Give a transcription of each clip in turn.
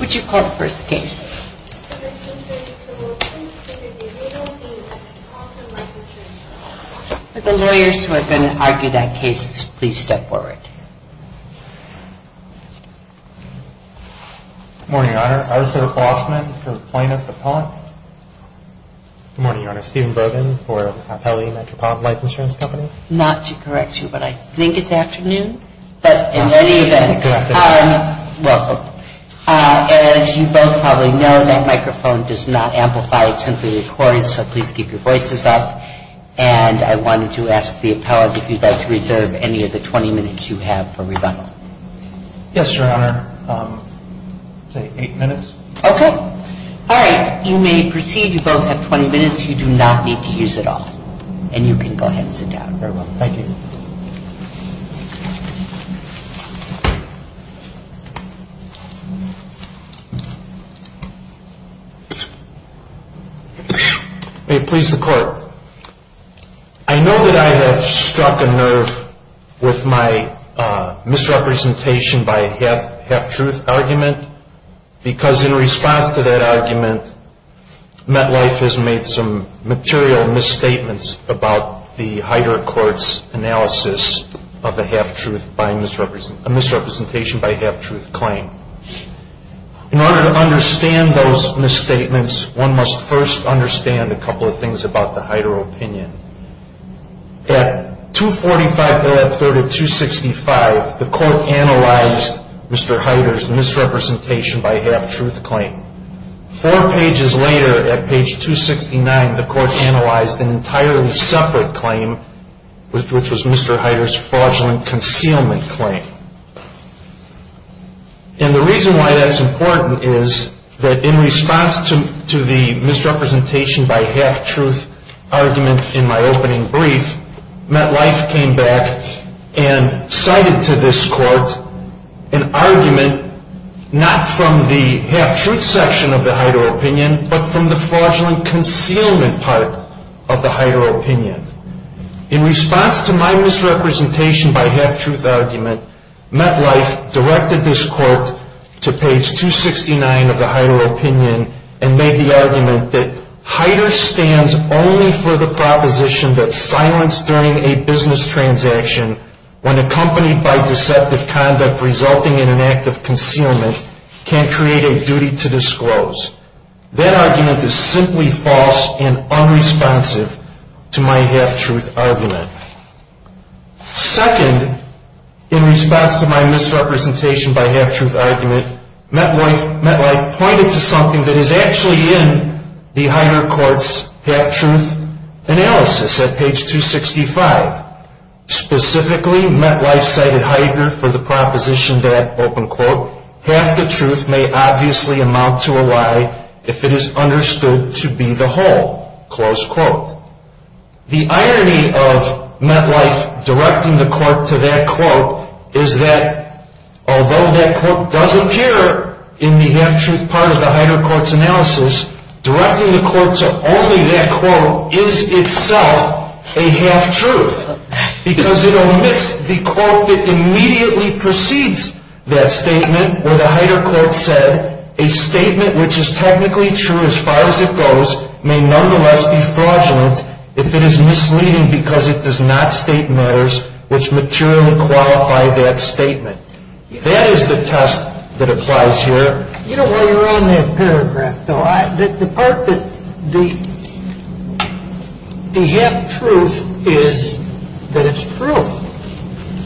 Would you call the first case? Would the lawyers who are going to argue that case please step forward? Good morning, Your Honor. Arthur Hoffman from Plano for PONT. Good morning, Your Honor. Stephen Brogan for Hapelli Metropolitan Life Insurance Company. I'm sorry, Your Honor, I'm not to correct you, but I think it's afternoon. But in any event, welcome. As you both probably know, that microphone does not amplify. It's simply recorded, so please keep your voices up. And I wanted to ask the appellate if you'd like to reserve any of the 20 minutes you have for rebuttal. Yes, Your Honor. I'll take eight minutes. Okay. All right. You may proceed. If you both have 20 minutes, you do not need to use it all. And you can go ahead and sit down. Thank you. May it please the Court. I know that I have struck a nerve with my misrepresentation by half-truth argument because in response to that argument, MetLife has made some material misstatements about the Hyder Court's analysis of a misrepresentation by half-truth claim. In order to understand those misstatements, one must first understand a couple of things about the Hyder opinion. At 245.30265, the Court analyzed Mr. Hyder's misrepresentation by half-truth claim. Four pages later, at page 269, the Court analyzed an entirely separate claim, which was Mr. Hyder's fraudulent concealment claim. And the reason why that's important is that in response to the misrepresentation by half-truth argument in my opening brief, MetLife came back and cited to this Court an argument not from the half-truth section of the Hyder opinion, but from the fraudulent concealment part of the Hyder opinion. In response to my misrepresentation by half-truth argument, MetLife directed this Court to page 269 of the Hyder opinion and made the argument that Hyder stands only for the proposition that silence during a business transaction when accompanied by deceptive conduct resulting in an act of concealment can create a duty to disclose. That argument is simply false and unresponsive to my half-truth argument. Second, in response to my misrepresentation by half-truth argument, MetLife pointed to something that is actually in the Hyder Court's half-truth analysis at page 265. Specifically, MetLife cited Hyder for the proposition that, half the truth may obviously amount to a lie if it is understood to be the whole. The irony of MetLife directing the Court to that quote is that, although that quote does appear in the half-truth part of the Hyder Court's analysis, directing the Court to only that quote is itself a half-truth because it omits the quote that immediately precedes that statement where the Hyder Court said, a statement which is technically true as far as it goes may nonetheless be fraudulent if it is misleading because it does not state matters which materially qualify that statement. That is the test that applies here. You know, while you're on that paragraph, though, the part that the half-truth is that it's true,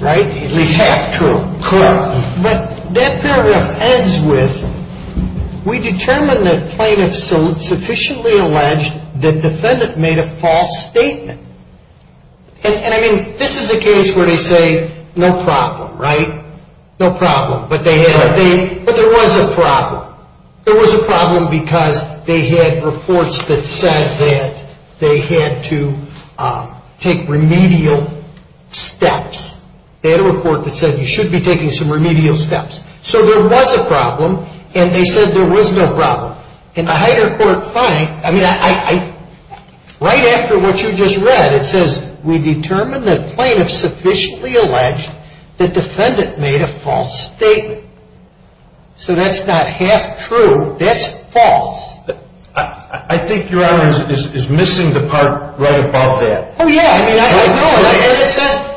right? At least half-true. Correct. But that paragraph ends with, we determine that plaintiff sufficiently alleged that defendant made a false statement. And, I mean, this is a case where they say, no problem, right? No problem. But there was a problem. There was a problem because they had reports that said that they had to take remedial steps. They had a report that said you should be taking some remedial steps. So there was a problem, and they said there was no problem. And the Hyder Court finds, I mean, right after what you just read, it says, we determine that plaintiff sufficiently alleged that defendant made a false statement. So that's not half-true. That's false. I think Your Honor is missing the part right above that. Oh, yeah.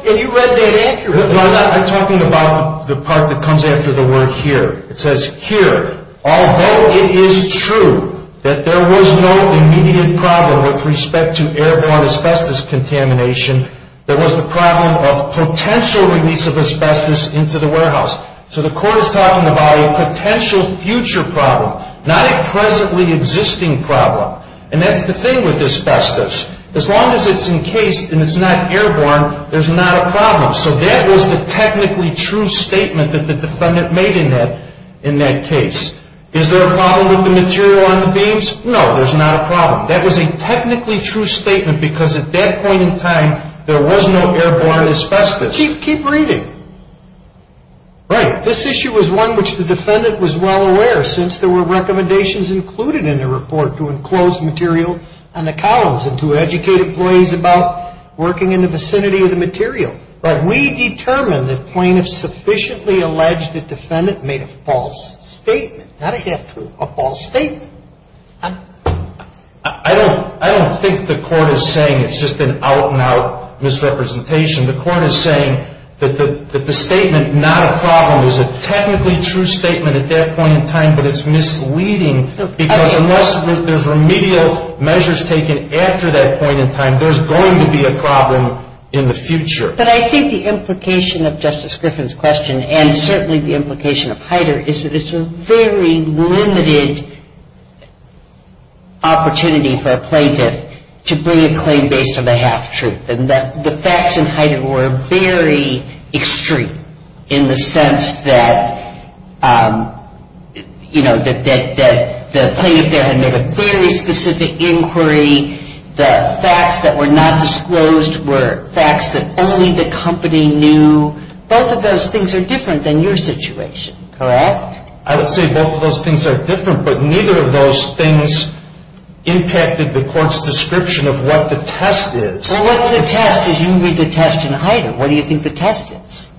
And you read that accurately. I'm talking about the part that comes after the word here. It says here, although it is true that there was no immediate problem with respect to airborne asbestos contamination, there was the problem of potential release of asbestos into the warehouse. So the court is talking about a potential future problem, not a presently existing problem. And that's the thing with asbestos. As long as it's encased and it's not airborne, there's not a problem. So that was the technically true statement that the defendant made in that case. Is there a problem with the material on the beams? No, there's not a problem. That was a technically true statement because at that point in time, there was no airborne asbestos. Keep reading. Right. This issue was one which the defendant was well aware, since there were recommendations included in the report to enclose material on the columns and to educate employees about working in the vicinity of the material. Right. We determined the plaintiff sufficiently alleged the defendant made a false statement. Not a half-truth, a false statement. I don't think the court is saying it's just an out-and-out misrepresentation. The court is saying that the statement, not a problem, is a technically true statement at that point in time, but it's misleading because unless there's remedial measures taken after that point in time, there's going to be a problem in the future. But I think the implication of Justice Griffin's question and certainly the implication of Heider is that it's a very limited opportunity for a plaintiff to bring a claim based on a half-truth. The facts in Heider were very extreme in the sense that, you know, the plaintiff there had made a very specific inquiry. The facts that were not disclosed were facts that only the company knew. Both of those things are different than your situation, correct? I would say both of those things are different, but neither of those things impacted the court's description of what the test is. Well, what's the test is you read the test in Heider. What do you think the test is?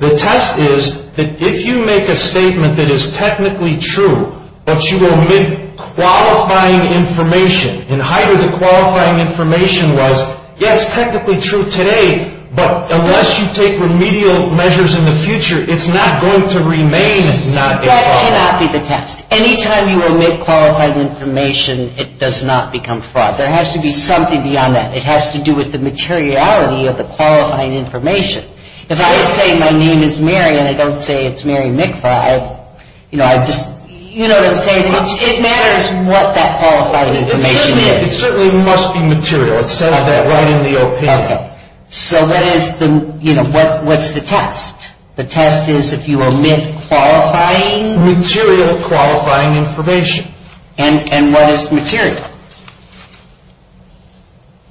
The test is that if you make a statement that is technically true, but you omit qualifying information, in Heider the qualifying information was, yes, technically true today, but unless you take remedial measures in the future, it's not going to remain as not being qualified. That cannot be the test. Anytime you omit qualifying information, it does not become fraud. There has to be something beyond that. It has to do with the materiality of the qualifying information. If I say my name is Mary and I don't say it's Mary Mikva, you know, I just, you know what I'm saying, it matters what that qualifying information is. It certainly must be material. It says that right in the opinion. Okay. So that is the, you know, what's the test? The test is if you omit qualifying? Material qualifying information. And what is material?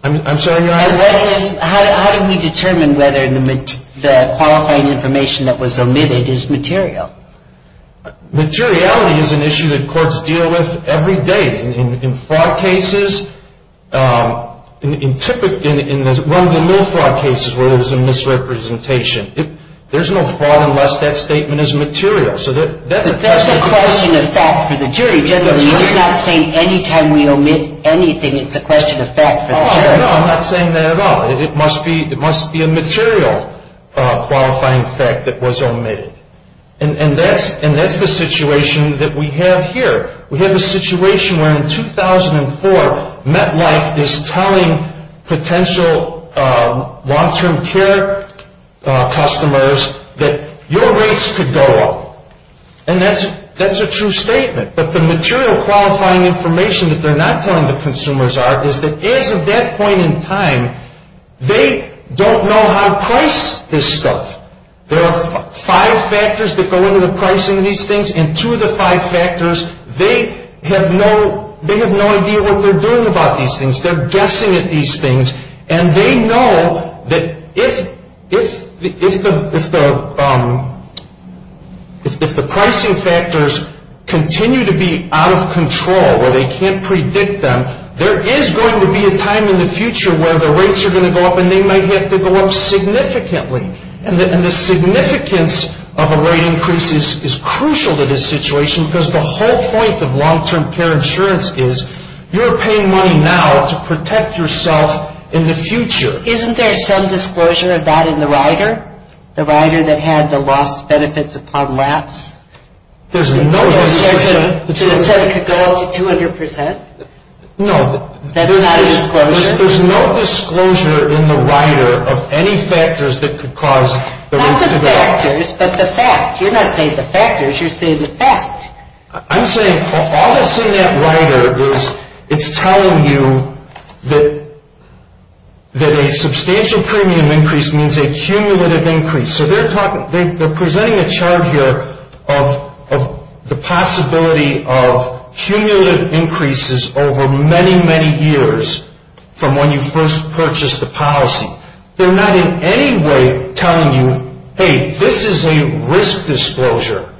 I'm sorry. How do we determine whether the qualifying information that was omitted is material? Materiality is an issue that courts deal with every day. In fraud cases, in one of the little fraud cases where there was a misrepresentation, there's no fraud unless that statement is material. So that's a question. That's a question of fact for the jury. You're not saying any time we omit anything it's a question of fact for the jury. No, I'm not saying that at all. It must be a material qualifying fact that was omitted. And that's the situation that we have here. We have a situation where in 2004, MetLife is telling potential long-term care customers that your rates could go up. And that's a true statement. But the material qualifying information that they're not telling the consumers are is that as of that point in time, they don't know how to price this stuff. There are five factors that go into the pricing of these things. And two of the five factors, they have no idea what they're doing about these things. They're guessing at these things. And they know that if the pricing factors continue to be out of control, where they can't predict them, there is going to be a time in the future where the rates are going to go up and they might have to go up significantly. And the significance of a rate increase is crucial to this situation because the whole point of long-term care insurance is you're paying money now to protect yourself in the future. Isn't there some disclosure of that in the rider? The rider that had the lost benefits upon lapse? There's no disclosure. To the extent it could go up to 200%? No. That's not a disclosure? There's no disclosure in the rider of any factors that could cause the rates to go up. Not the factors, but the fact. You're not saying the factors, you're saying the fact. I'm saying all that's in that rider is it's telling you that a substantial premium increase means a cumulative increase. So they're presenting a chart here of the possibility of cumulative increases over many, many years from when you first purchased the policy. They're not in any way telling you, hey, this is a risk disclosure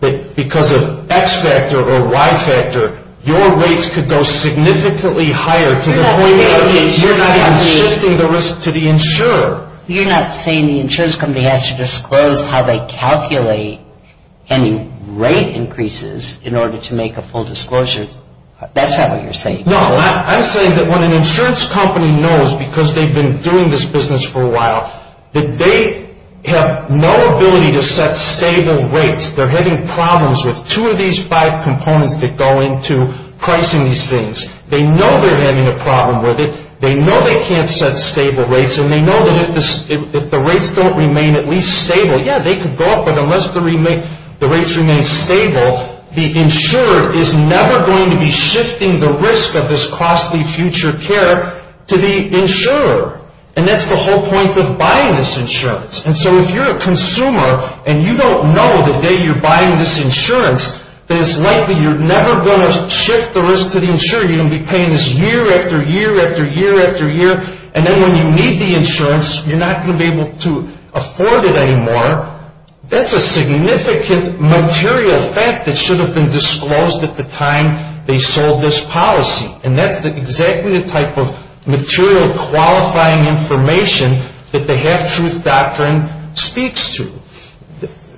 that because of X factor or Y factor, your rates could go significantly higher to the point where you're not even shifting the risk to the insurer. You're not saying the insurance company has to disclose how they calculate any rate increases in order to make a full disclosure? That's not what you're saying. No, I'm saying that when an insurance company knows because they've been doing this business for a while that they have no ability to set stable rates. They're having problems with two of these five components that go into pricing these things. They know they're having a problem with it. They know they can't set stable rates. And they know that if the rates don't remain at least stable, yeah, they could go up, but unless the rates remain stable, the insurer is never going to be shifting the risk of this costly future care to the insurer. And that's the whole point of buying this insurance. And so if you're a consumer and you don't know the day you're buying this insurance that it's likely you're never going to shift the risk to the insurer. You're going to be paying this year after year after year after year. And then when you need the insurance, you're not going to be able to afford it anymore. That's a significant material fact that should have been disclosed at the time they sold this policy. And that's exactly the type of material qualifying information that the half-truth doctrine speaks to.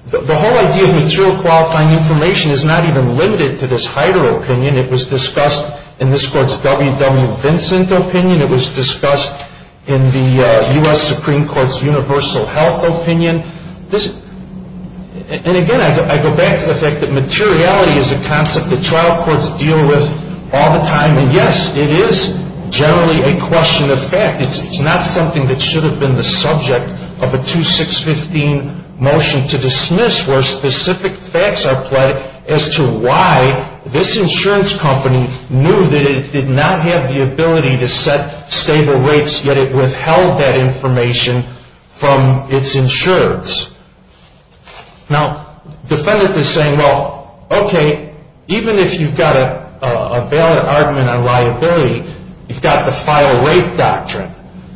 The whole idea of material qualifying information is not even limited to this Heider opinion. It was discussed in this Court's W. W. Vincent opinion. It was discussed in the U.S. Supreme Court's universal health opinion. And, again, I go back to the fact that materiality is a concept that trial courts deal with all the time and, yes, it is generally a question of fact. It's not something that should have been the subject of a 2615 motion to dismiss where specific facts are pledged as to why this insurance company knew that it did not have the ability to set stable rates yet it withheld that information from its insurers. Now, defendants are saying, well, okay, even if you've got a valid argument on liability, you've got the file rate doctrine.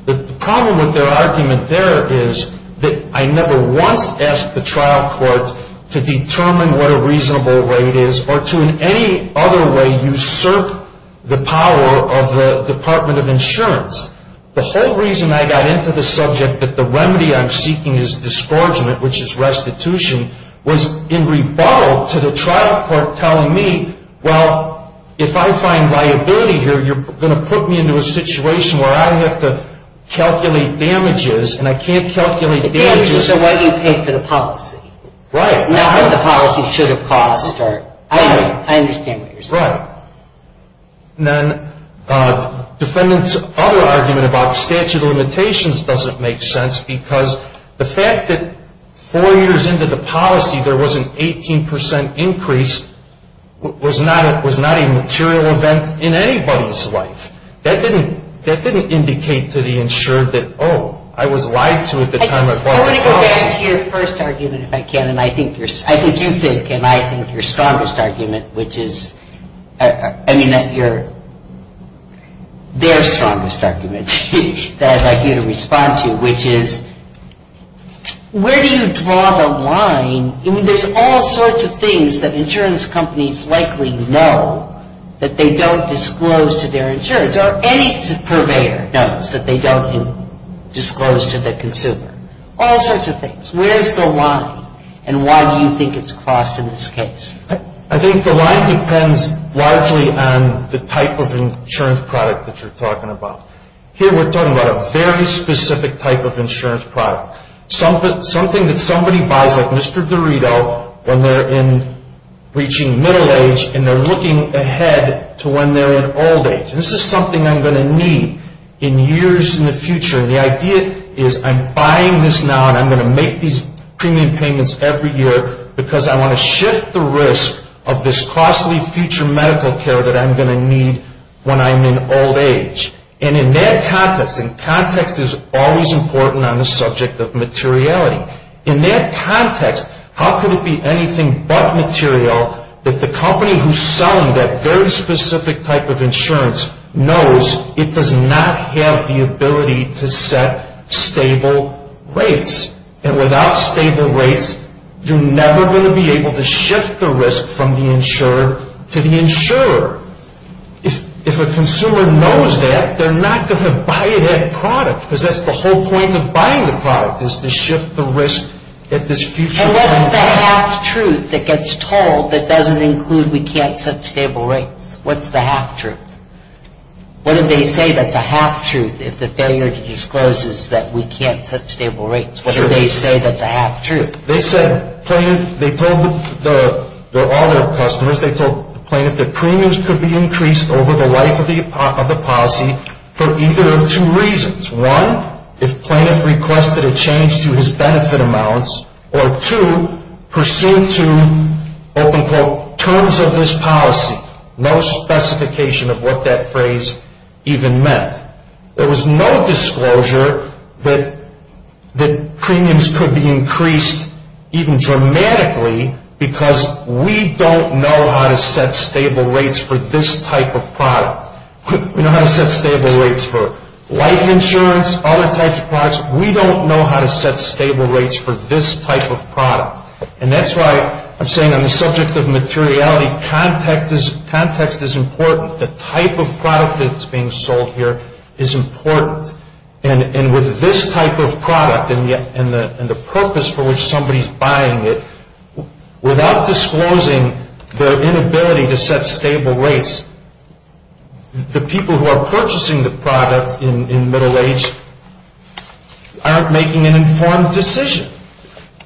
The problem with their argument there is that I never once asked the trial courts to determine what a reasonable rate is or to in any other way usurp the power of the Department of Insurance. The whole reason I got into the subject that the remedy I'm seeking is disgorgement, which is restitution, was in rebuttal to the trial court telling me, well, if I find liability here, you're going to put me into a situation where I have to calculate damages and I can't calculate damages. The damages are what you pay for the policy. Right. Not what the policy should have cost or I understand what you're saying. Right. And then defendants' other argument about statute of limitations doesn't make sense because the fact that four years into the policy there was an 18 percent increase was not a material event in anybody's life. That didn't indicate to the insured that, oh, I was lied to at the time I bought the house. I want to go back to your first argument, if I can, and I think you're – I think you think and I think your strongest argument, which is – I mean, your – their strongest argument that I'd like you to respond to, which is where do you draw the line? I mean, there's all sorts of things that insurance companies likely know that they don't disclose to their insurance or any purveyor knows that they don't disclose to the consumer, all sorts of things. Where's the line and why do you think it's crossed in this case? I think the line depends largely on the type of insurance product that you're talking about. Here we're talking about a very specific type of insurance product, something that somebody buys like Mr. Dorito when they're in – reaching middle age and they're looking ahead to when they're in old age. This is something I'm going to need in years in the future. And the idea is I'm buying this now and I'm going to make these premium payments every year because I want to shift the risk of this costly future medical care that I'm going to need when I'm in old age. And in that context – and context is always important on the subject of materiality – in that context, how could it be anything but material that the company who's selling that very specific type of insurance knows it does not have the ability to set stable rates? And without stable rates, you're never going to be able to shift the risk from the insurer to the insurer. If a consumer knows that, they're not going to buy that product because that's the whole point of buying the product is to shift the risk at this future point. And what's the half truth that gets told that doesn't include we can't set stable rates? What's the half truth? What do they say that's a half truth if the failure to disclose is that we can't set stable rates? What do they say that's a half truth? They said plaintiff – they told all their customers, they told plaintiff that premiums could be increased over the life of the policy for either of two reasons. One, if plaintiff requested a change to his benefit amounts, or two, pursuant to, open quote, terms of this policy. No specification of what that phrase even meant. There was no disclosure that premiums could be increased even dramatically because we don't know how to set stable rates for this type of product. We know how to set stable rates for life insurance, other types of products. We don't know how to set stable rates for this type of product. And that's why I'm saying on the subject of materiality, context is important. The type of product that's being sold here is important. And with this type of product and the purpose for which somebody's buying it, without disclosing their inability to set stable rates, the people who are purchasing the product in middle age aren't making an informed decision.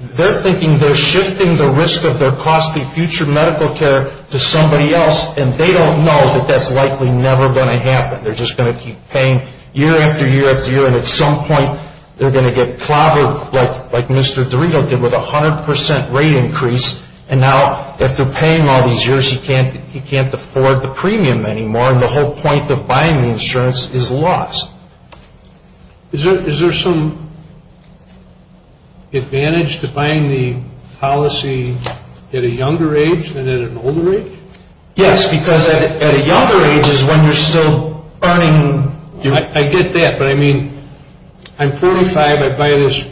They're thinking they're shifting the risk of their costly future medical care to somebody else, and they don't know that that's likely never going to happen. They're just going to keep paying year after year after year, and at some point they're going to get clobbered like Mr. Dorito did with a 100% rate increase, and now if they're paying all these years, he can't afford the premium anymore, and the whole point of buying the insurance is lost. Is there some advantage to buying the policy at a younger age than at an older age? Yes, because at a younger age is when you're still earning. I get that, but I mean, I'm 45. I buy this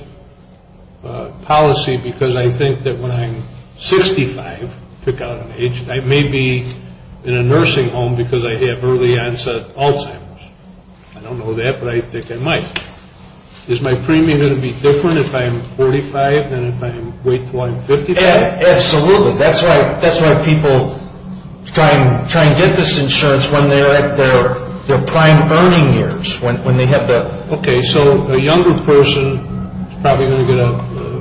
policy because I think that when I'm 65, I may be in a nursing home because I have early onset Alzheimer's. I don't know that, but I think I might. Is my premium going to be different if I'm 45 than if I wait until I'm 55? Absolutely. That's why people try and get this insurance when they're at their prime earning years. Okay, so a younger person is probably going to get a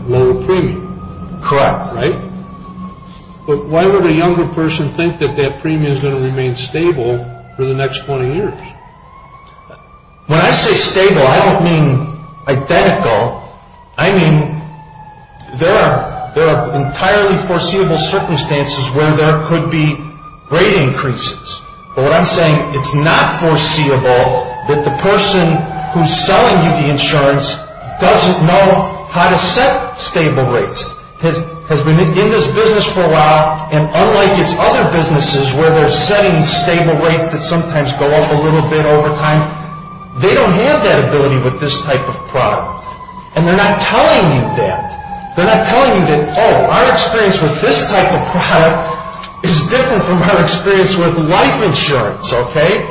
lower premium. Correct. Right? But why would a younger person think that that premium is going to remain stable for the next 20 years? When I say stable, I don't mean identical. I mean there are entirely foreseeable circumstances where there could be rate increases, but what I'm saying, it's not foreseeable that the person who's selling you the insurance doesn't know how to set stable rates, has been in this business for a while, and unlike its other businesses where they're setting stable rates that sometimes go up a little bit over time, they don't have that ability with this type of product. And they're not telling you that. They're not telling you that, oh, our experience with this type of product is different from our experience with life insurance, okay?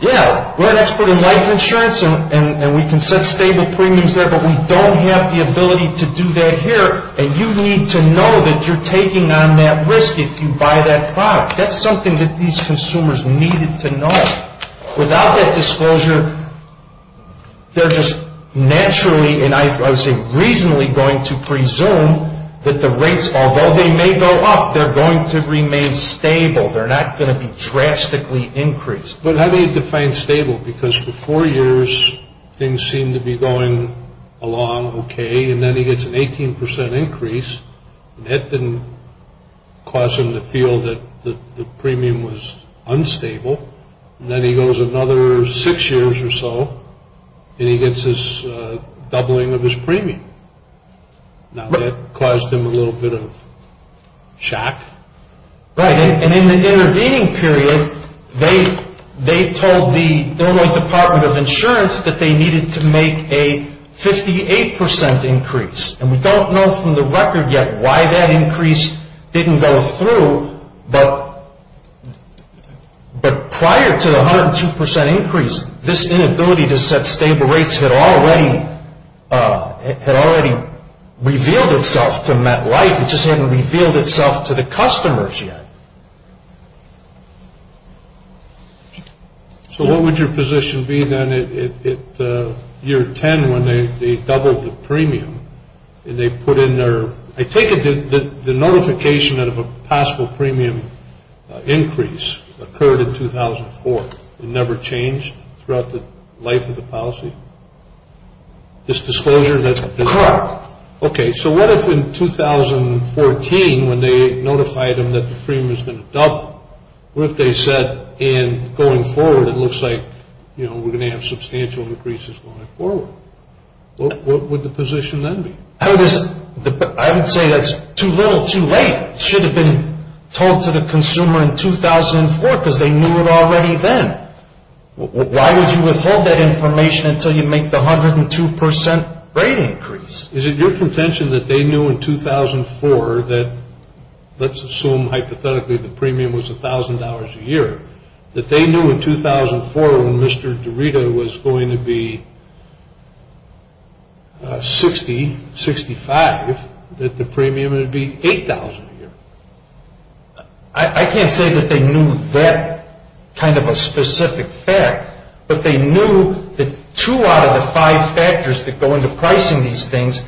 Yeah, we're an expert in life insurance and we can set stable premiums there, but we don't have the ability to do that here. And you need to know that you're taking on that risk if you buy that product. That's something that these consumers needed to know. Without that disclosure, they're just naturally and I would say reasonably going to presume that the rates, although they may go up, they're going to remain stable. They're not going to be drastically increased. But how do you define stable? Because for four years, things seem to be going along okay, and then he gets an 18% increase. That didn't cause him to feel that the premium was unstable, and then he goes another six years or so and he gets this doubling of his premium. Now, that caused him a little bit of shock. Right, and in the intervening period, they told the Illinois Department of Insurance that they needed to make a 58% increase. And we don't know from the record yet why that increase didn't go through, but prior to the 102% increase, this inability to set stable rates had already revealed itself to MetLife. It just hadn't revealed itself to the customers yet. So what would your position be then at year 10 when they doubled the premium and they put in their – I take it the notification of a possible premium increase occurred in 2004 and never changed throughout the life of the policy? This disclosure that – Correct. Okay, so what if in 2014 when they notified him that the premium was going to double, what if they said, and going forward it looks like, you know, we're going to have substantial increases going forward? What would the position then be? I would say that's too little, too late. It should have been told to the consumer in 2004 because they knew it already then. Why would you withhold that information until you make the 102% rate increase? Is it your contention that they knew in 2004 that let's assume hypothetically the premium was $1,000 a year, that they knew in 2004 when Mr. Dorita was going to be $60,000, $65,000, that the premium would be $8,000 a year? I can't say that they knew that kind of a specific fact, but they knew that two out of the five factors that go into pricing these things,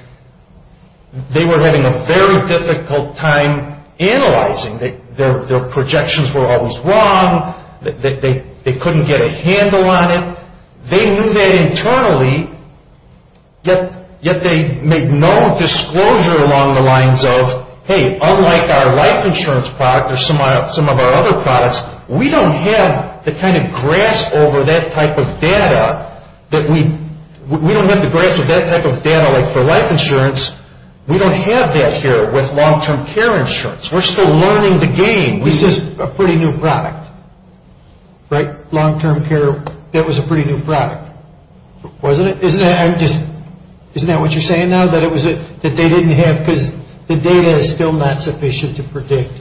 they were having a very difficult time analyzing. Their projections were always wrong. They couldn't get a handle on it. They knew that internally, yet they made no disclosure along the lines of, hey, unlike our life insurance product or some of our other products, we don't have the kind of grasp over that type of data that we, we don't have the grasp of that type of data like for life insurance. We don't have that here with long-term care insurance. We're still learning the game. This is a pretty new product, right? Long-term care, that was a pretty new product, wasn't it? Isn't that what you're saying now, that they didn't have, because the data is still not sufficient to predict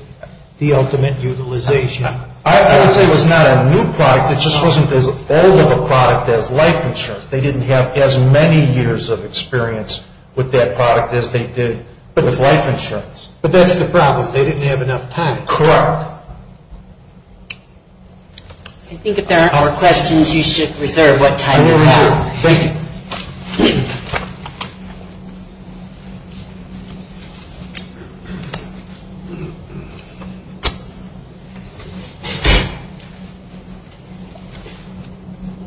the ultimate utilization? I would say it was not a new product. It just wasn't as old of a product as life insurance. They didn't have as many years of experience with that product as they did with life insurance. But that's the problem. They didn't have enough time. Correct. I think if there aren't more questions, you should reserve what time you have. I will reserve.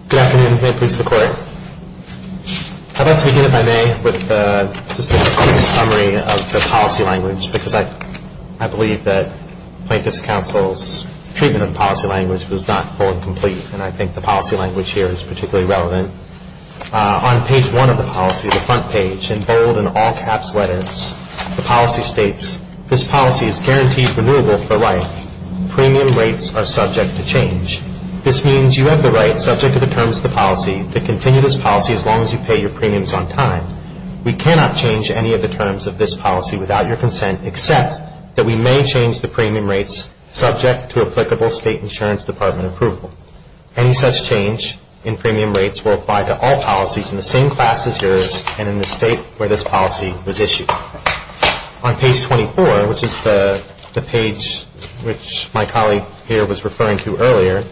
Good afternoon. May it please the Court. I'd like to begin, if I may, with just a quick summary of the policy language because I believe that Plaintiff's Counsel's treatment of the policy language was not full and complete, and I think the policy language here is particularly relevant. On page one of the policy, the front page, in bold and all-caps letters, the policy states, this policy is guaranteed renewable for life. Premium rates are subject to change. This means you have the right, subject to the terms of the policy, to continue this policy as long as you pay your premiums on time. We cannot change any of the terms of this policy without your consent, except that we may change the premium rates subject to applicable State Insurance Department approval. Any such change in premium rates will apply to all policies in the same class as yours and in the state where this policy was issued. On page 24, which is the page which my colleague here was referring to earlier,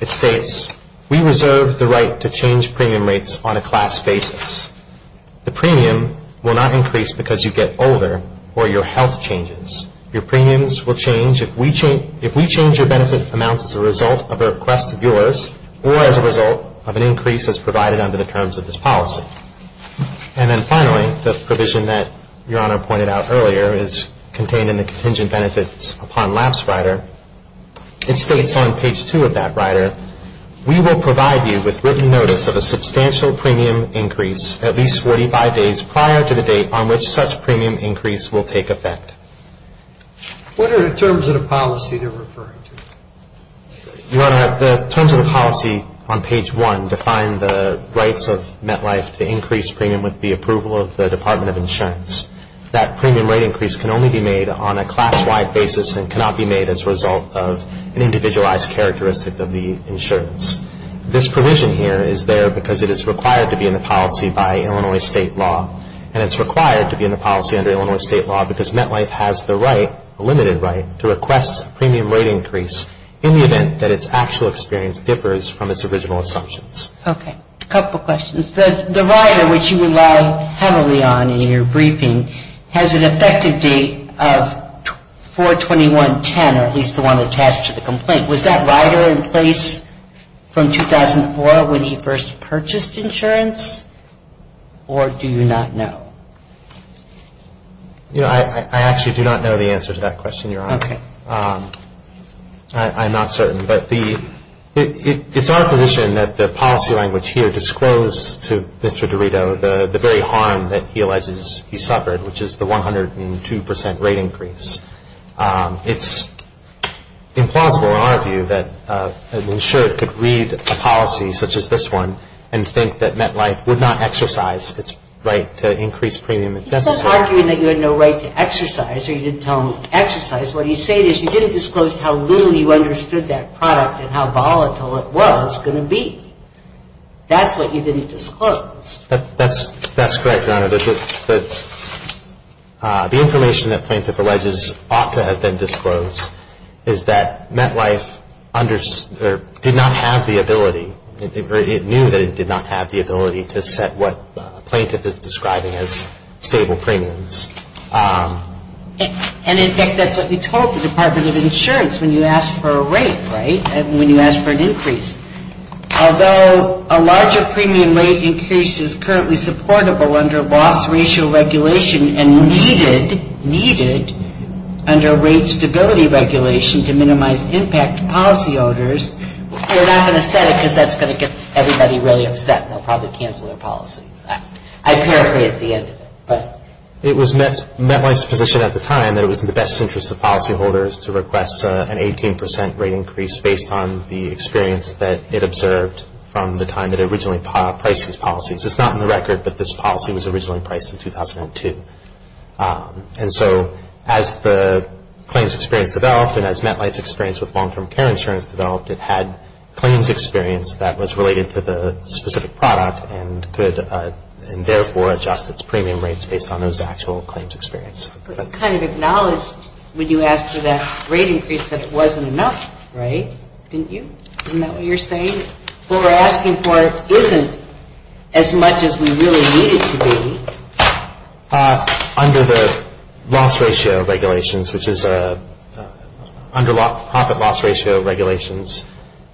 it states, we reserve the right to change premium rates on a class basis. The premium will not increase because you get older or your health changes. Your premiums will change if we change your benefit amounts as a result of a request of yours or as a result of an increase as provided under the terms of this policy. And then finally, the provision that Your Honor pointed out earlier is contained in the contingent benefits upon lapse rider. It states on page 2 of that rider, we will provide you with written notice of a substantial premium increase at least 45 days prior to the date on which such premium increase will take effect. What are the terms of the policy they're referring to? Your Honor, the terms of the policy on page 1 define the rights of MetLife to increase premium with the approval of the Department of Insurance. That premium rate increase can only be made on a class-wide basis and cannot be made as a result of an individualized characteristic of the insurance. This provision here is there because it is required to be in the policy by Illinois State law. And it's required to be in the policy under Illinois State law because MetLife has the right, a limited right, to request a premium rate increase in the event that its actual experience differs from its original assumptions. Okay. A couple questions. The rider which you relied heavily on in your briefing has an effective date of 4-21-10 or at least the one attached to the complaint. Was that rider in place from 2004 when he first purchased insurance or do you not know? You know, I actually do not know the answer to that question, Your Honor. Okay. I'm not certain, but it's our position that the policy language here disclosed to Mr. Dorito the very harm that he alleges he suffered, which is the 102 percent rate increase. It's implausible in our view that an insurer could read a policy such as this one and think that MetLife would not exercise its right to increase premium if necessary. He's not arguing that you had no right to exercise or you didn't tell him to exercise. What he's saying is you didn't disclose how little you understood that product and how volatile it was going to be. That's what you didn't disclose. That's correct, Your Honor. The information that Plaintiff alleges ought to have been disclosed is that MetLife did not have the ability or it knew that it did not have the ability to set what Plaintiff is describing as stable premiums. And, in fact, that's what you told the Department of Insurance when you asked for a rate, right, when you asked for an increase. Although a larger premium rate increase is currently supportable under loss ratio regulation and needed under rate stability regulation to minimize impact to policy owners, you're not going to set it because that's going to get everybody really upset and they'll probably cancel their policies. I paraphrase the end of it. It was MetLife's position at the time that it was in the best interest of policyholders to request an 18 percent rate increase based on the experience that it observed from the time that it originally priced these policies. It's not in the record, but this policy was originally priced in 2002. And so as the claims experience developed and as MetLife's experience with long-term care insurance developed, it had claims experience that was related to the specific product and could therefore adjust its premium rates based on those actual claims experience. But it kind of acknowledged when you asked for that rate increase that it wasn't enough, right? Didn't you? Isn't that what you're saying? What we're asking for isn't as much as we really need it to be. Under the loss ratio regulations, which is under profit loss ratio regulations,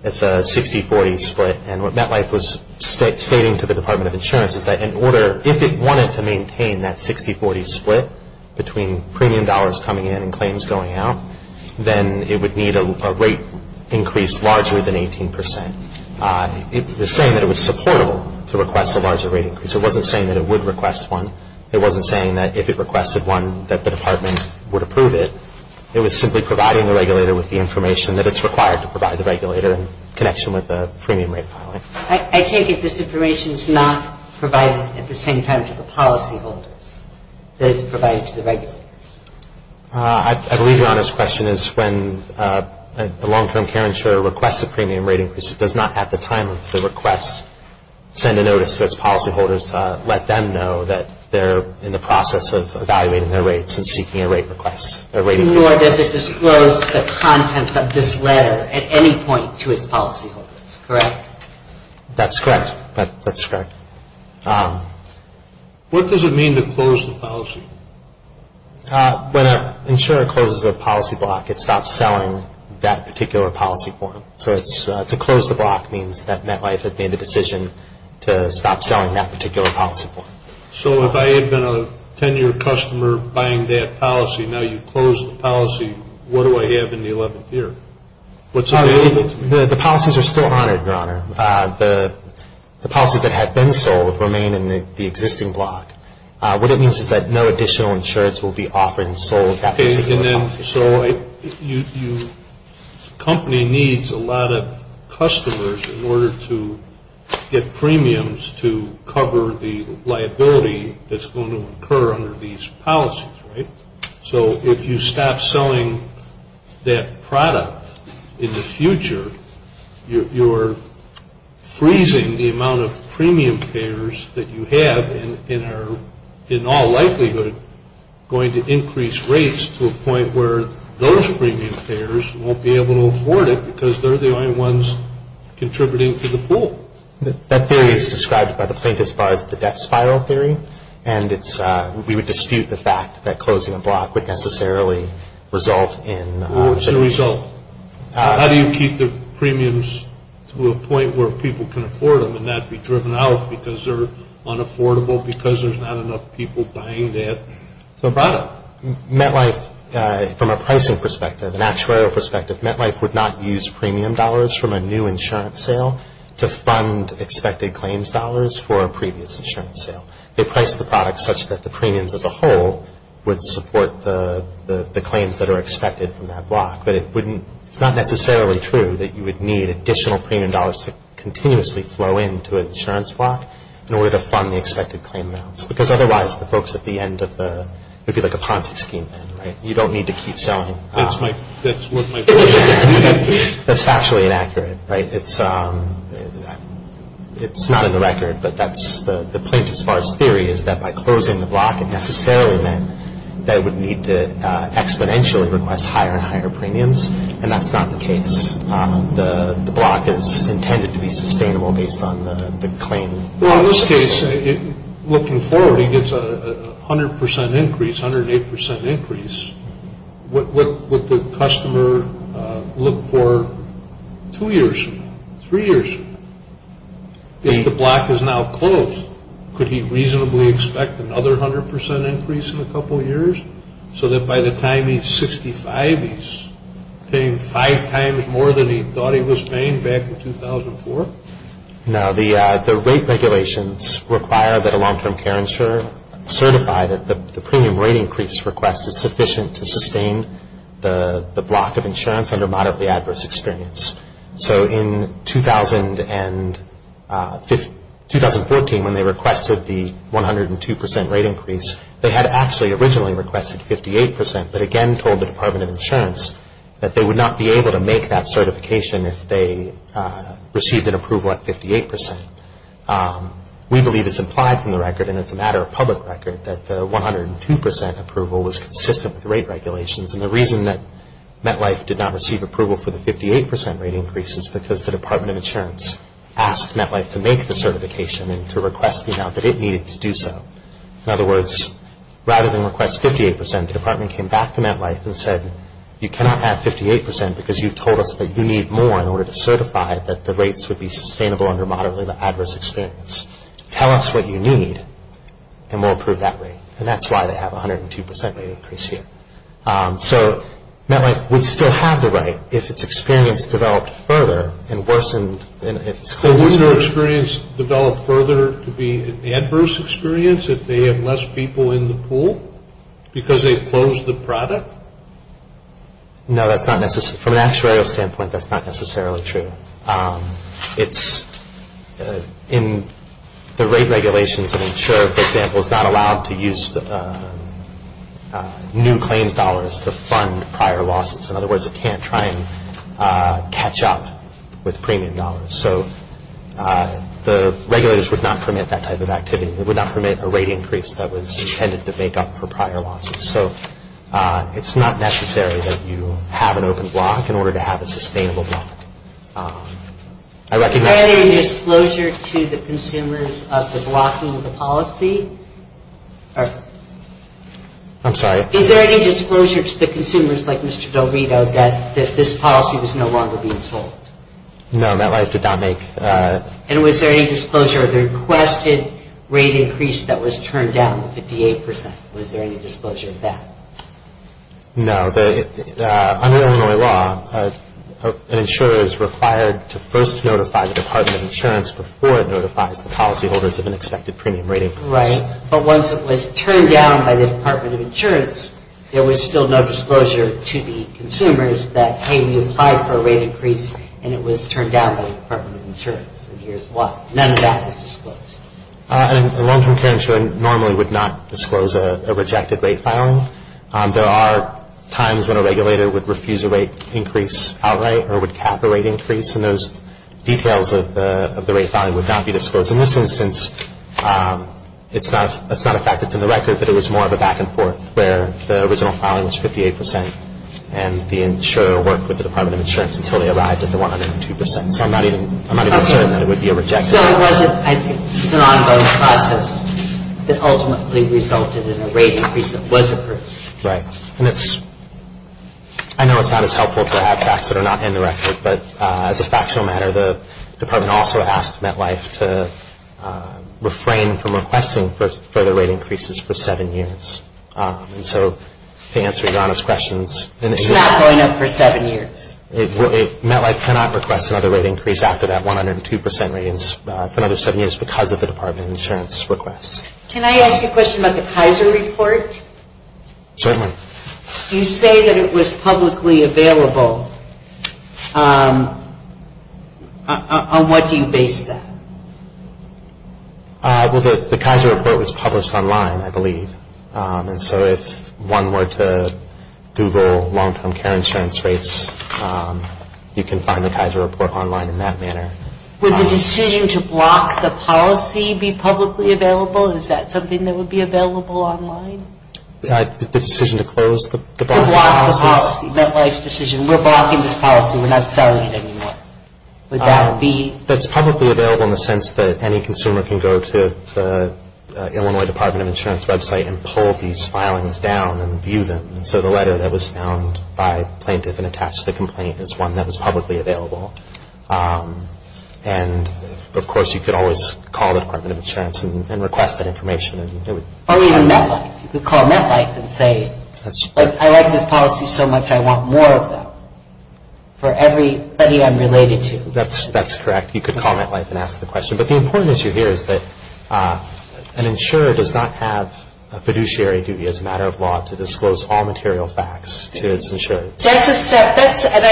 it's a 60-40 split. And what MetLife was stating to the Department of Insurance is that if it wanted to maintain that 60-40 split between premium dollars coming in and claims going out, then it would need a rate increase larger than 18 percent. It was saying that it was supportable to request a larger rate increase. It wasn't saying that it would request one. It wasn't saying that if it requested one that the department would approve it. It was simply providing the regulator with the information that it's required to provide the regulator in connection with the premium rate filing. I take it this information is not provided at the same time to the policyholders, that it's provided to the regulators. I believe Your Honor's question is when a long-term care insurer requests a premium rate increase, it does not at the time of the request send a notice to its policyholders to let them know that they're in the process of evaluating their rates and seeking a rate increase request. Nor does it disclose the contents of this letter at any point to its policyholders, correct? That's correct. That's correct. What does it mean to close the policy? When an insurer closes a policy block, it stops selling that particular policy form. So to close the block means that MetLife has made the decision to stop selling that particular policy form. So if I had been a 10-year customer buying that policy, now you've closed the policy, what do I have in the 11th year? The policies are still honored, Your Honor. The policies that have been sold remain in the existing block. What it means is that no additional insurance will be offered and sold. So a company needs a lot of customers in order to get premiums to cover the liability that's going to occur under these policies, right? So if you stop selling that product in the future, you're freezing the amount of premium payers that you have and are in all likelihood going to increase rates to a point where those premium payers won't be able to afford it because they're the only ones contributing to the pool. That theory is described by the plaintiff's bar as the death spiral theory, and we would dispute the fact that closing a block would necessarily result in... What's the result? How do you keep the premiums to a point where people can afford them and not be driven out because they're unaffordable, because there's not enough people buying that product? MetLife, from a pricing perspective, an actuarial perspective, MetLife would not use premium dollars from a new insurance sale to fund expected claims dollars for a previous insurance sale. They price the product such that the premiums as a whole would support the claims that are expected from that block, but it's not necessarily true that you would need additional premium dollars to continuously flow into an insurance block in order to fund the expected claim amounts because otherwise the folks at the end of the... It would be like a Ponzi scheme then, right? You don't need to keep selling. That's what my question is. That's factually inaccurate, right? It's not in the record, but that's the plaintiff's bar's theory is that by closing the block, it necessarily meant that it would need to exponentially request higher and higher premiums, and that's not the case. The block is intended to be sustainable based on the claim. Well, in this case, looking forward, he gets a 100% increase, 108% increase. What would the customer look for two years from now, three years from now? If the block is now closed, could he reasonably expect another 100% increase in a couple years so that by the time he's 65, he's paying five times more than he thought he was paying back in 2004? No. The rate regulations require that a long-term care insurer certify that the premium rate increase request is sufficient to sustain the block of insurance under moderately adverse experience. So in 2014, when they requested the 102% rate increase, they had actually originally requested 58%, but again told the Department of Insurance that they would not be able to make that certification if they received an approval at 58%. We believe it's implied from the record, and it's a matter of public record, that the 102% approval was consistent with the rate regulations, and the reason that MetLife did not receive approval for the 58% rate increase is because the Department of Insurance asked MetLife to make the certification and to request the amount that it needed to do so. In other words, rather than request 58%, the department came back to MetLife and said, you cannot have 58% because you've told us that you need more in order to certify that the rates would be sustainable under moderately adverse experience. Tell us what you need, and we'll approve that rate, and that's why they have a 102% rate increase here. So MetLife would still have the right if its experience developed further and worsened. So wouldn't their experience develop further to be an adverse experience if they have less people in the pool because they've closed the product? No, that's not necessary. From an actuarial standpoint, that's not necessarily true. In the rate regulations, an insurer, for example, is not allowed to use new claims dollars to fund prior losses. In other words, it can't try and catch up with premium dollars. So the regulators would not permit that type of activity. They would not permit a rate increase that was intended to make up for prior losses. So it's not necessary that you have an open block in order to have a sustainable block. Is there any disclosure to the consumers of the blocking of the policy? I'm sorry? Is there any disclosure to the consumers, like Mr. Del Vito, that this policy was no longer being sold? No, MetLife did not make... And was there any disclosure of the requested rate increase that was turned down to 58%? Was there any disclosure of that? No. Under Illinois law, an insurer is required to first notify the Department of Insurance before it notifies the policyholders of an expected premium rate increase. Right. But once it was turned down by the Department of Insurance, there was still no disclosure to the consumers that, hey, we applied for a rate increase and it was turned down by the Department of Insurance, and here's why. None of that is disclosed. A long-term care insurer normally would not disclose a rejected rate filing. There are times when a regulator would refuse a rate increase outright or would cap a rate increase, and those details of the rate filing would not be disclosed. In this instance, it's not a fact that's in the record, but it was more of a back and forth where the original filing was 58% and the insurer worked with the Department of Insurance until they arrived at the 102%. So it wasn't, I think, an ongoing process that ultimately resulted in a rate increase that was approved. Right. And it's, I know it's not as helpful to have facts that are not in the record, but as a factional matter, the Department also asked MetLife to refrain from requesting further rate increases for seven years. And so to answer your honest questions, It's not going up for seven years. MetLife cannot request another rate increase after that 102% rate increase for another seven years because of the Department of Insurance requests. Can I ask a question about the Kaiser report? Certainly. You say that it was publicly available. On what do you base that? Well, the Kaiser report was published online, I believe. And so if one were to Google long-term care insurance rates, you can find the Kaiser report online in that manner. Would the decision to block the policy be publicly available? Is that something that would be available online? The decision to close the policy? To block the policy, MetLife's decision. We're blocking this policy. We're not selling it anymore. Would that be? That's publicly available in the sense that any consumer can go to the Illinois Department of Insurance website and pull these filings down and view them. And so the letter that was found by plaintiff and attached to the complaint is one that was publicly available. And of course, you could always call the Department of Insurance and request that information. Or even MetLife. You could call MetLife and say, I like this policy so much, I want more of them for every study I'm related to. That's correct. You could call MetLife and ask the question. But the important issue here is that an insurer does not have a fiduciary duty as a matter of law to disclose all material facts to its insurers. That's a set. And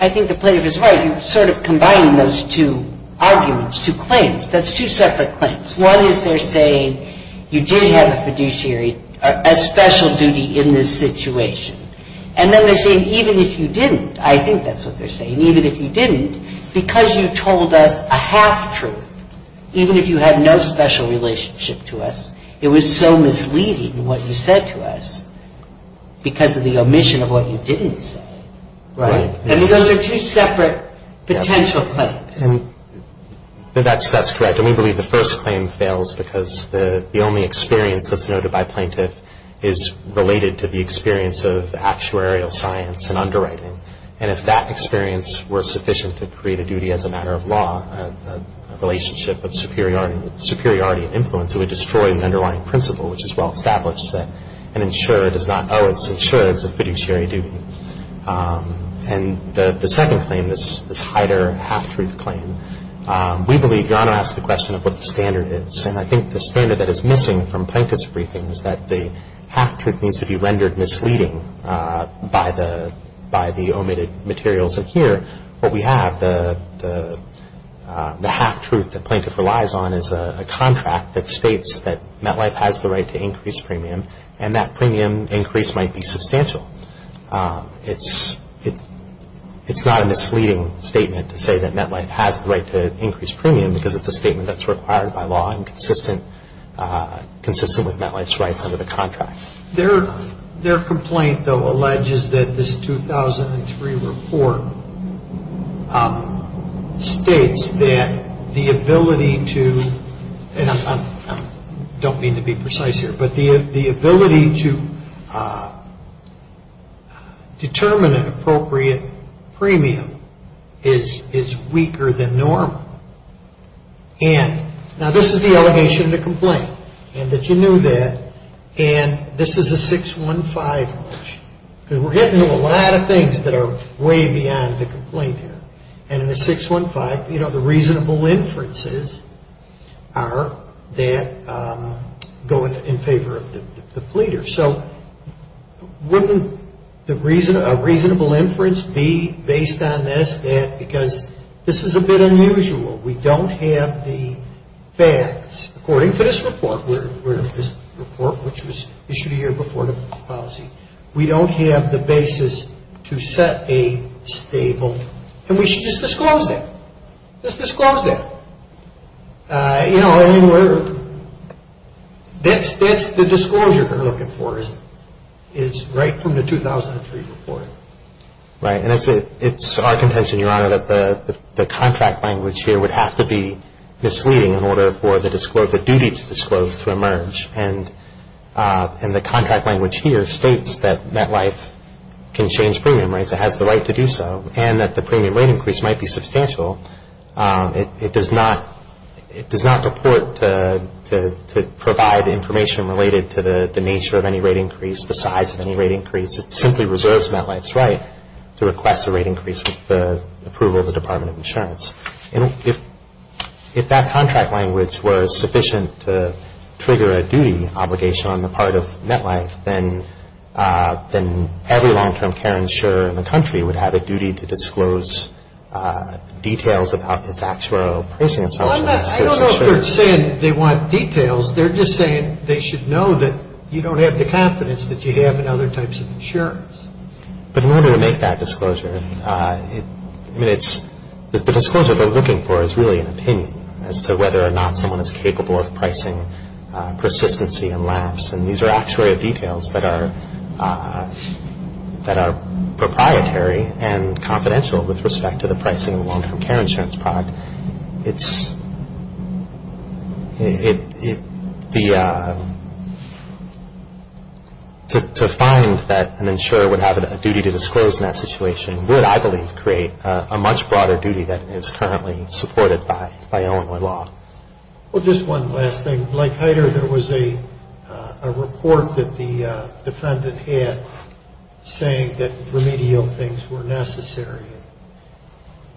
I think the plaintiff is right. You're sort of combining those two arguments, two claims. That's two separate claims. One is they're saying you did have a fiduciary, a special duty in this situation. And then they're saying even if you didn't, I think that's what they're saying, even if you didn't, because you told us a half-truth, even if you had no special relationship to us, it was so misleading what you said to us because of the omission of what you didn't say. Right. And those are two separate potential claims. That's correct. And we believe the first claim fails because the only experience that's noted by plaintiff is related to the experience of actuarial science and underwriting. And if that experience were sufficient to create a duty as a matter of law, a relationship of superiority and influence, it would destroy the underlying principle, which is well established that an insurer does not owe its insurers a fiduciary duty. And the second claim, this Heider half-truth claim, we believe you ought to ask the question of what the standard is. And I think the standard that is missing from plaintiff's briefing is that the half-truth needs to be rendered misleading by the omitted materials. And here what we have, the half-truth that plaintiff relies on, is a contract that states that MetLife has the right to increase premium, and that premium increase might be substantial. It's not a misleading statement to say that MetLife has the right to increase premium because it's a statement that's required by law consistent with MetLife's rights under the contract. Their complaint, though, alleges that this 2003 report states that the ability to, and I don't mean to be precise here, but the ability to determine an appropriate premium is weaker than normal. And now this is the allegation of the complaint, and that you knew that. And this is a 615. We're getting into a lot of things that are way beyond the complaint here. And in the 615, you know, the reasonable inferences are that go in favor of the pleader. So wouldn't a reasonable inference be based on this, because this is a bit unusual. We don't have the facts, according to this report, which was issued a year before the policy. We don't have the basis to set a stable, and we should just disclose that. Just disclose that. You know, I mean, whatever. That's the disclosure they're looking for is right from the 2003 report. Right, and it's our contention, Your Honor, that the contract language here would have to be misleading in order for the duty to disclose to emerge. And the contract language here states that MetLife can change premium rates, it has the right to do so, and that the premium rate increase might be substantial. It does not report to provide information related to the nature of any rate increase, the size of any rate increase. It simply reserves MetLife's right to request a rate increase with the approval of the Department of Insurance. And if that contract language were sufficient to trigger a duty obligation on the part of MetLife, then every long-term care insurer in the country would have a duty to disclose details about its actual pricing. I don't know if they're saying they want details. They're just saying they should know that you don't have the confidence that you have in other types of insurance. But in order to make that disclosure, I mean, it's the disclosure they're looking for is really an opinion as to whether or not someone is capable of pricing persistency and lapse. And these are actuary details that are proprietary and confidential with respect to the pricing of a long-term care insurance product. To find that an insurer would have a duty to disclose in that situation would, I believe, create a much broader duty that is currently supported by Illinois law. Well, just one last thing. Like Heider, there was a report that the defendant had saying that remedial things were necessary.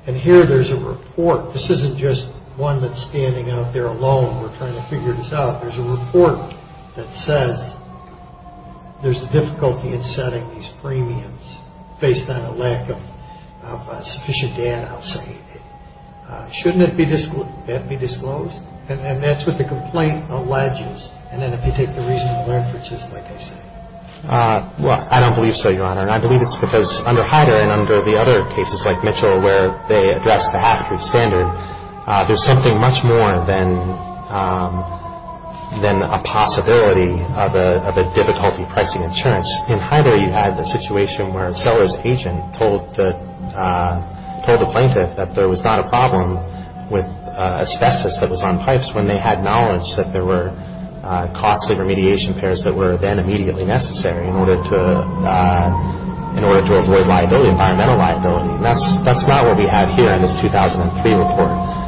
And here there's a report. This isn't just one that's standing out there alone. We're trying to figure this out. There's a report that says there's a difficulty in setting these premiums based on a lack of sufficient data, I'll say. Shouldn't that be disclosed? And that's what the complaint alleges. And then if you take the reasonable inferences, like I say. Well, I don't believe so, Your Honor. And I believe it's because under Heider and under the other cases like Mitchell where they address the half-truth standard, there's something much more than a possibility of a difficulty pricing insurance. In Heider, you had the situation where a seller's agent told the plaintiff that there was not a problem with asbestos that was on pipes when they had knowledge that there were costly remediation pairs that were then immediately necessary in order to avoid liability, environmental liability. And that's not what we have here in this 2003 report.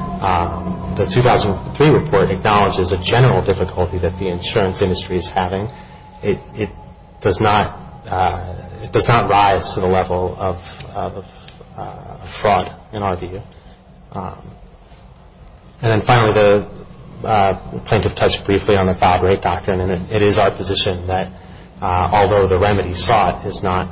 The 2003 report acknowledges a general difficulty that the insurance industry is having. It does not rise to the level of fraud in our view. And then finally, the plaintiff touched briefly on the foul rate doctrine, and it is our position that although the remedy sought is not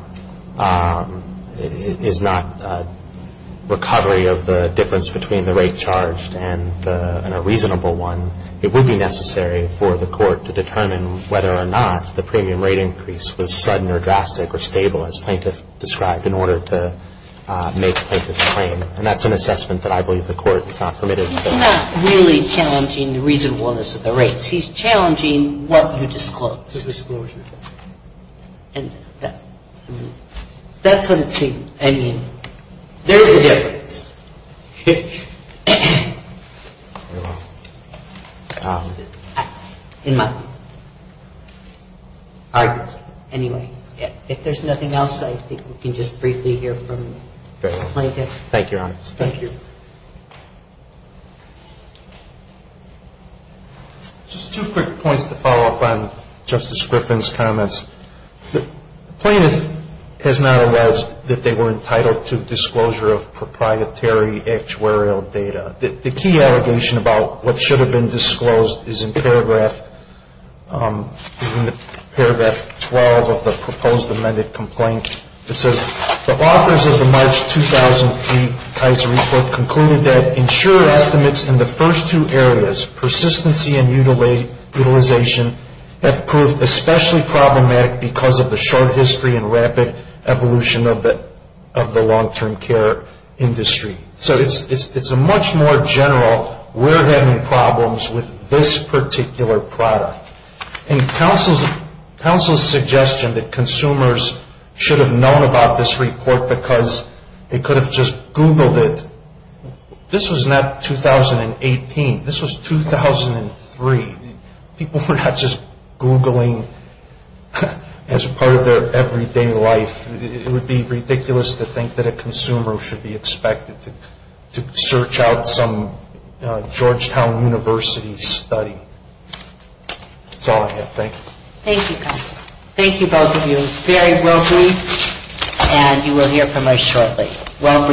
recovery of the difference between the rate charged and a reasonable one, it would be necessary for the court to determine whether or not the premium rate increase was sudden or drastic or stable as plaintiff described in order to make the plaintiff's claim. And that's an assessment that I believe the court is not permitted. He's not really challenging the reasonableness of the rates. He's challenging what you disclose. The disclosure. And that's what it seems. I mean, there is a difference. Anyway, if there's nothing else, I think we can just briefly hear from the plaintiff. Thank you, Your Honor. Thank you. Just two quick points to follow up on Justice Griffin's comments. The plaintiff has not alleged that they were entitled to disclosure of proprietary actuarial data. The key allegation about what should have been disclosed is in paragraph 12 of the proposed amended complaint. It says, the authors of the March 2003 Kaiser report concluded that insurer estimates in the first two areas, persistency and utilization, have proved especially problematic because of the short history and rapid evolution of the long-term care industry. So it's a much more general, we're having problems with this particular product. And counsel's suggestion that consumers should have known about this report because they could have just Googled it. This was not 2018. This was 2003. People were not just Googling as part of their everyday life. It would be ridiculous to think that a consumer should be expected to search out some Georgetown University study. That's all I have. Thank you. Thank you, counsel. Thank you, both of you. It was very well briefed, and you will hear from us shortly. Well briefed, well argued.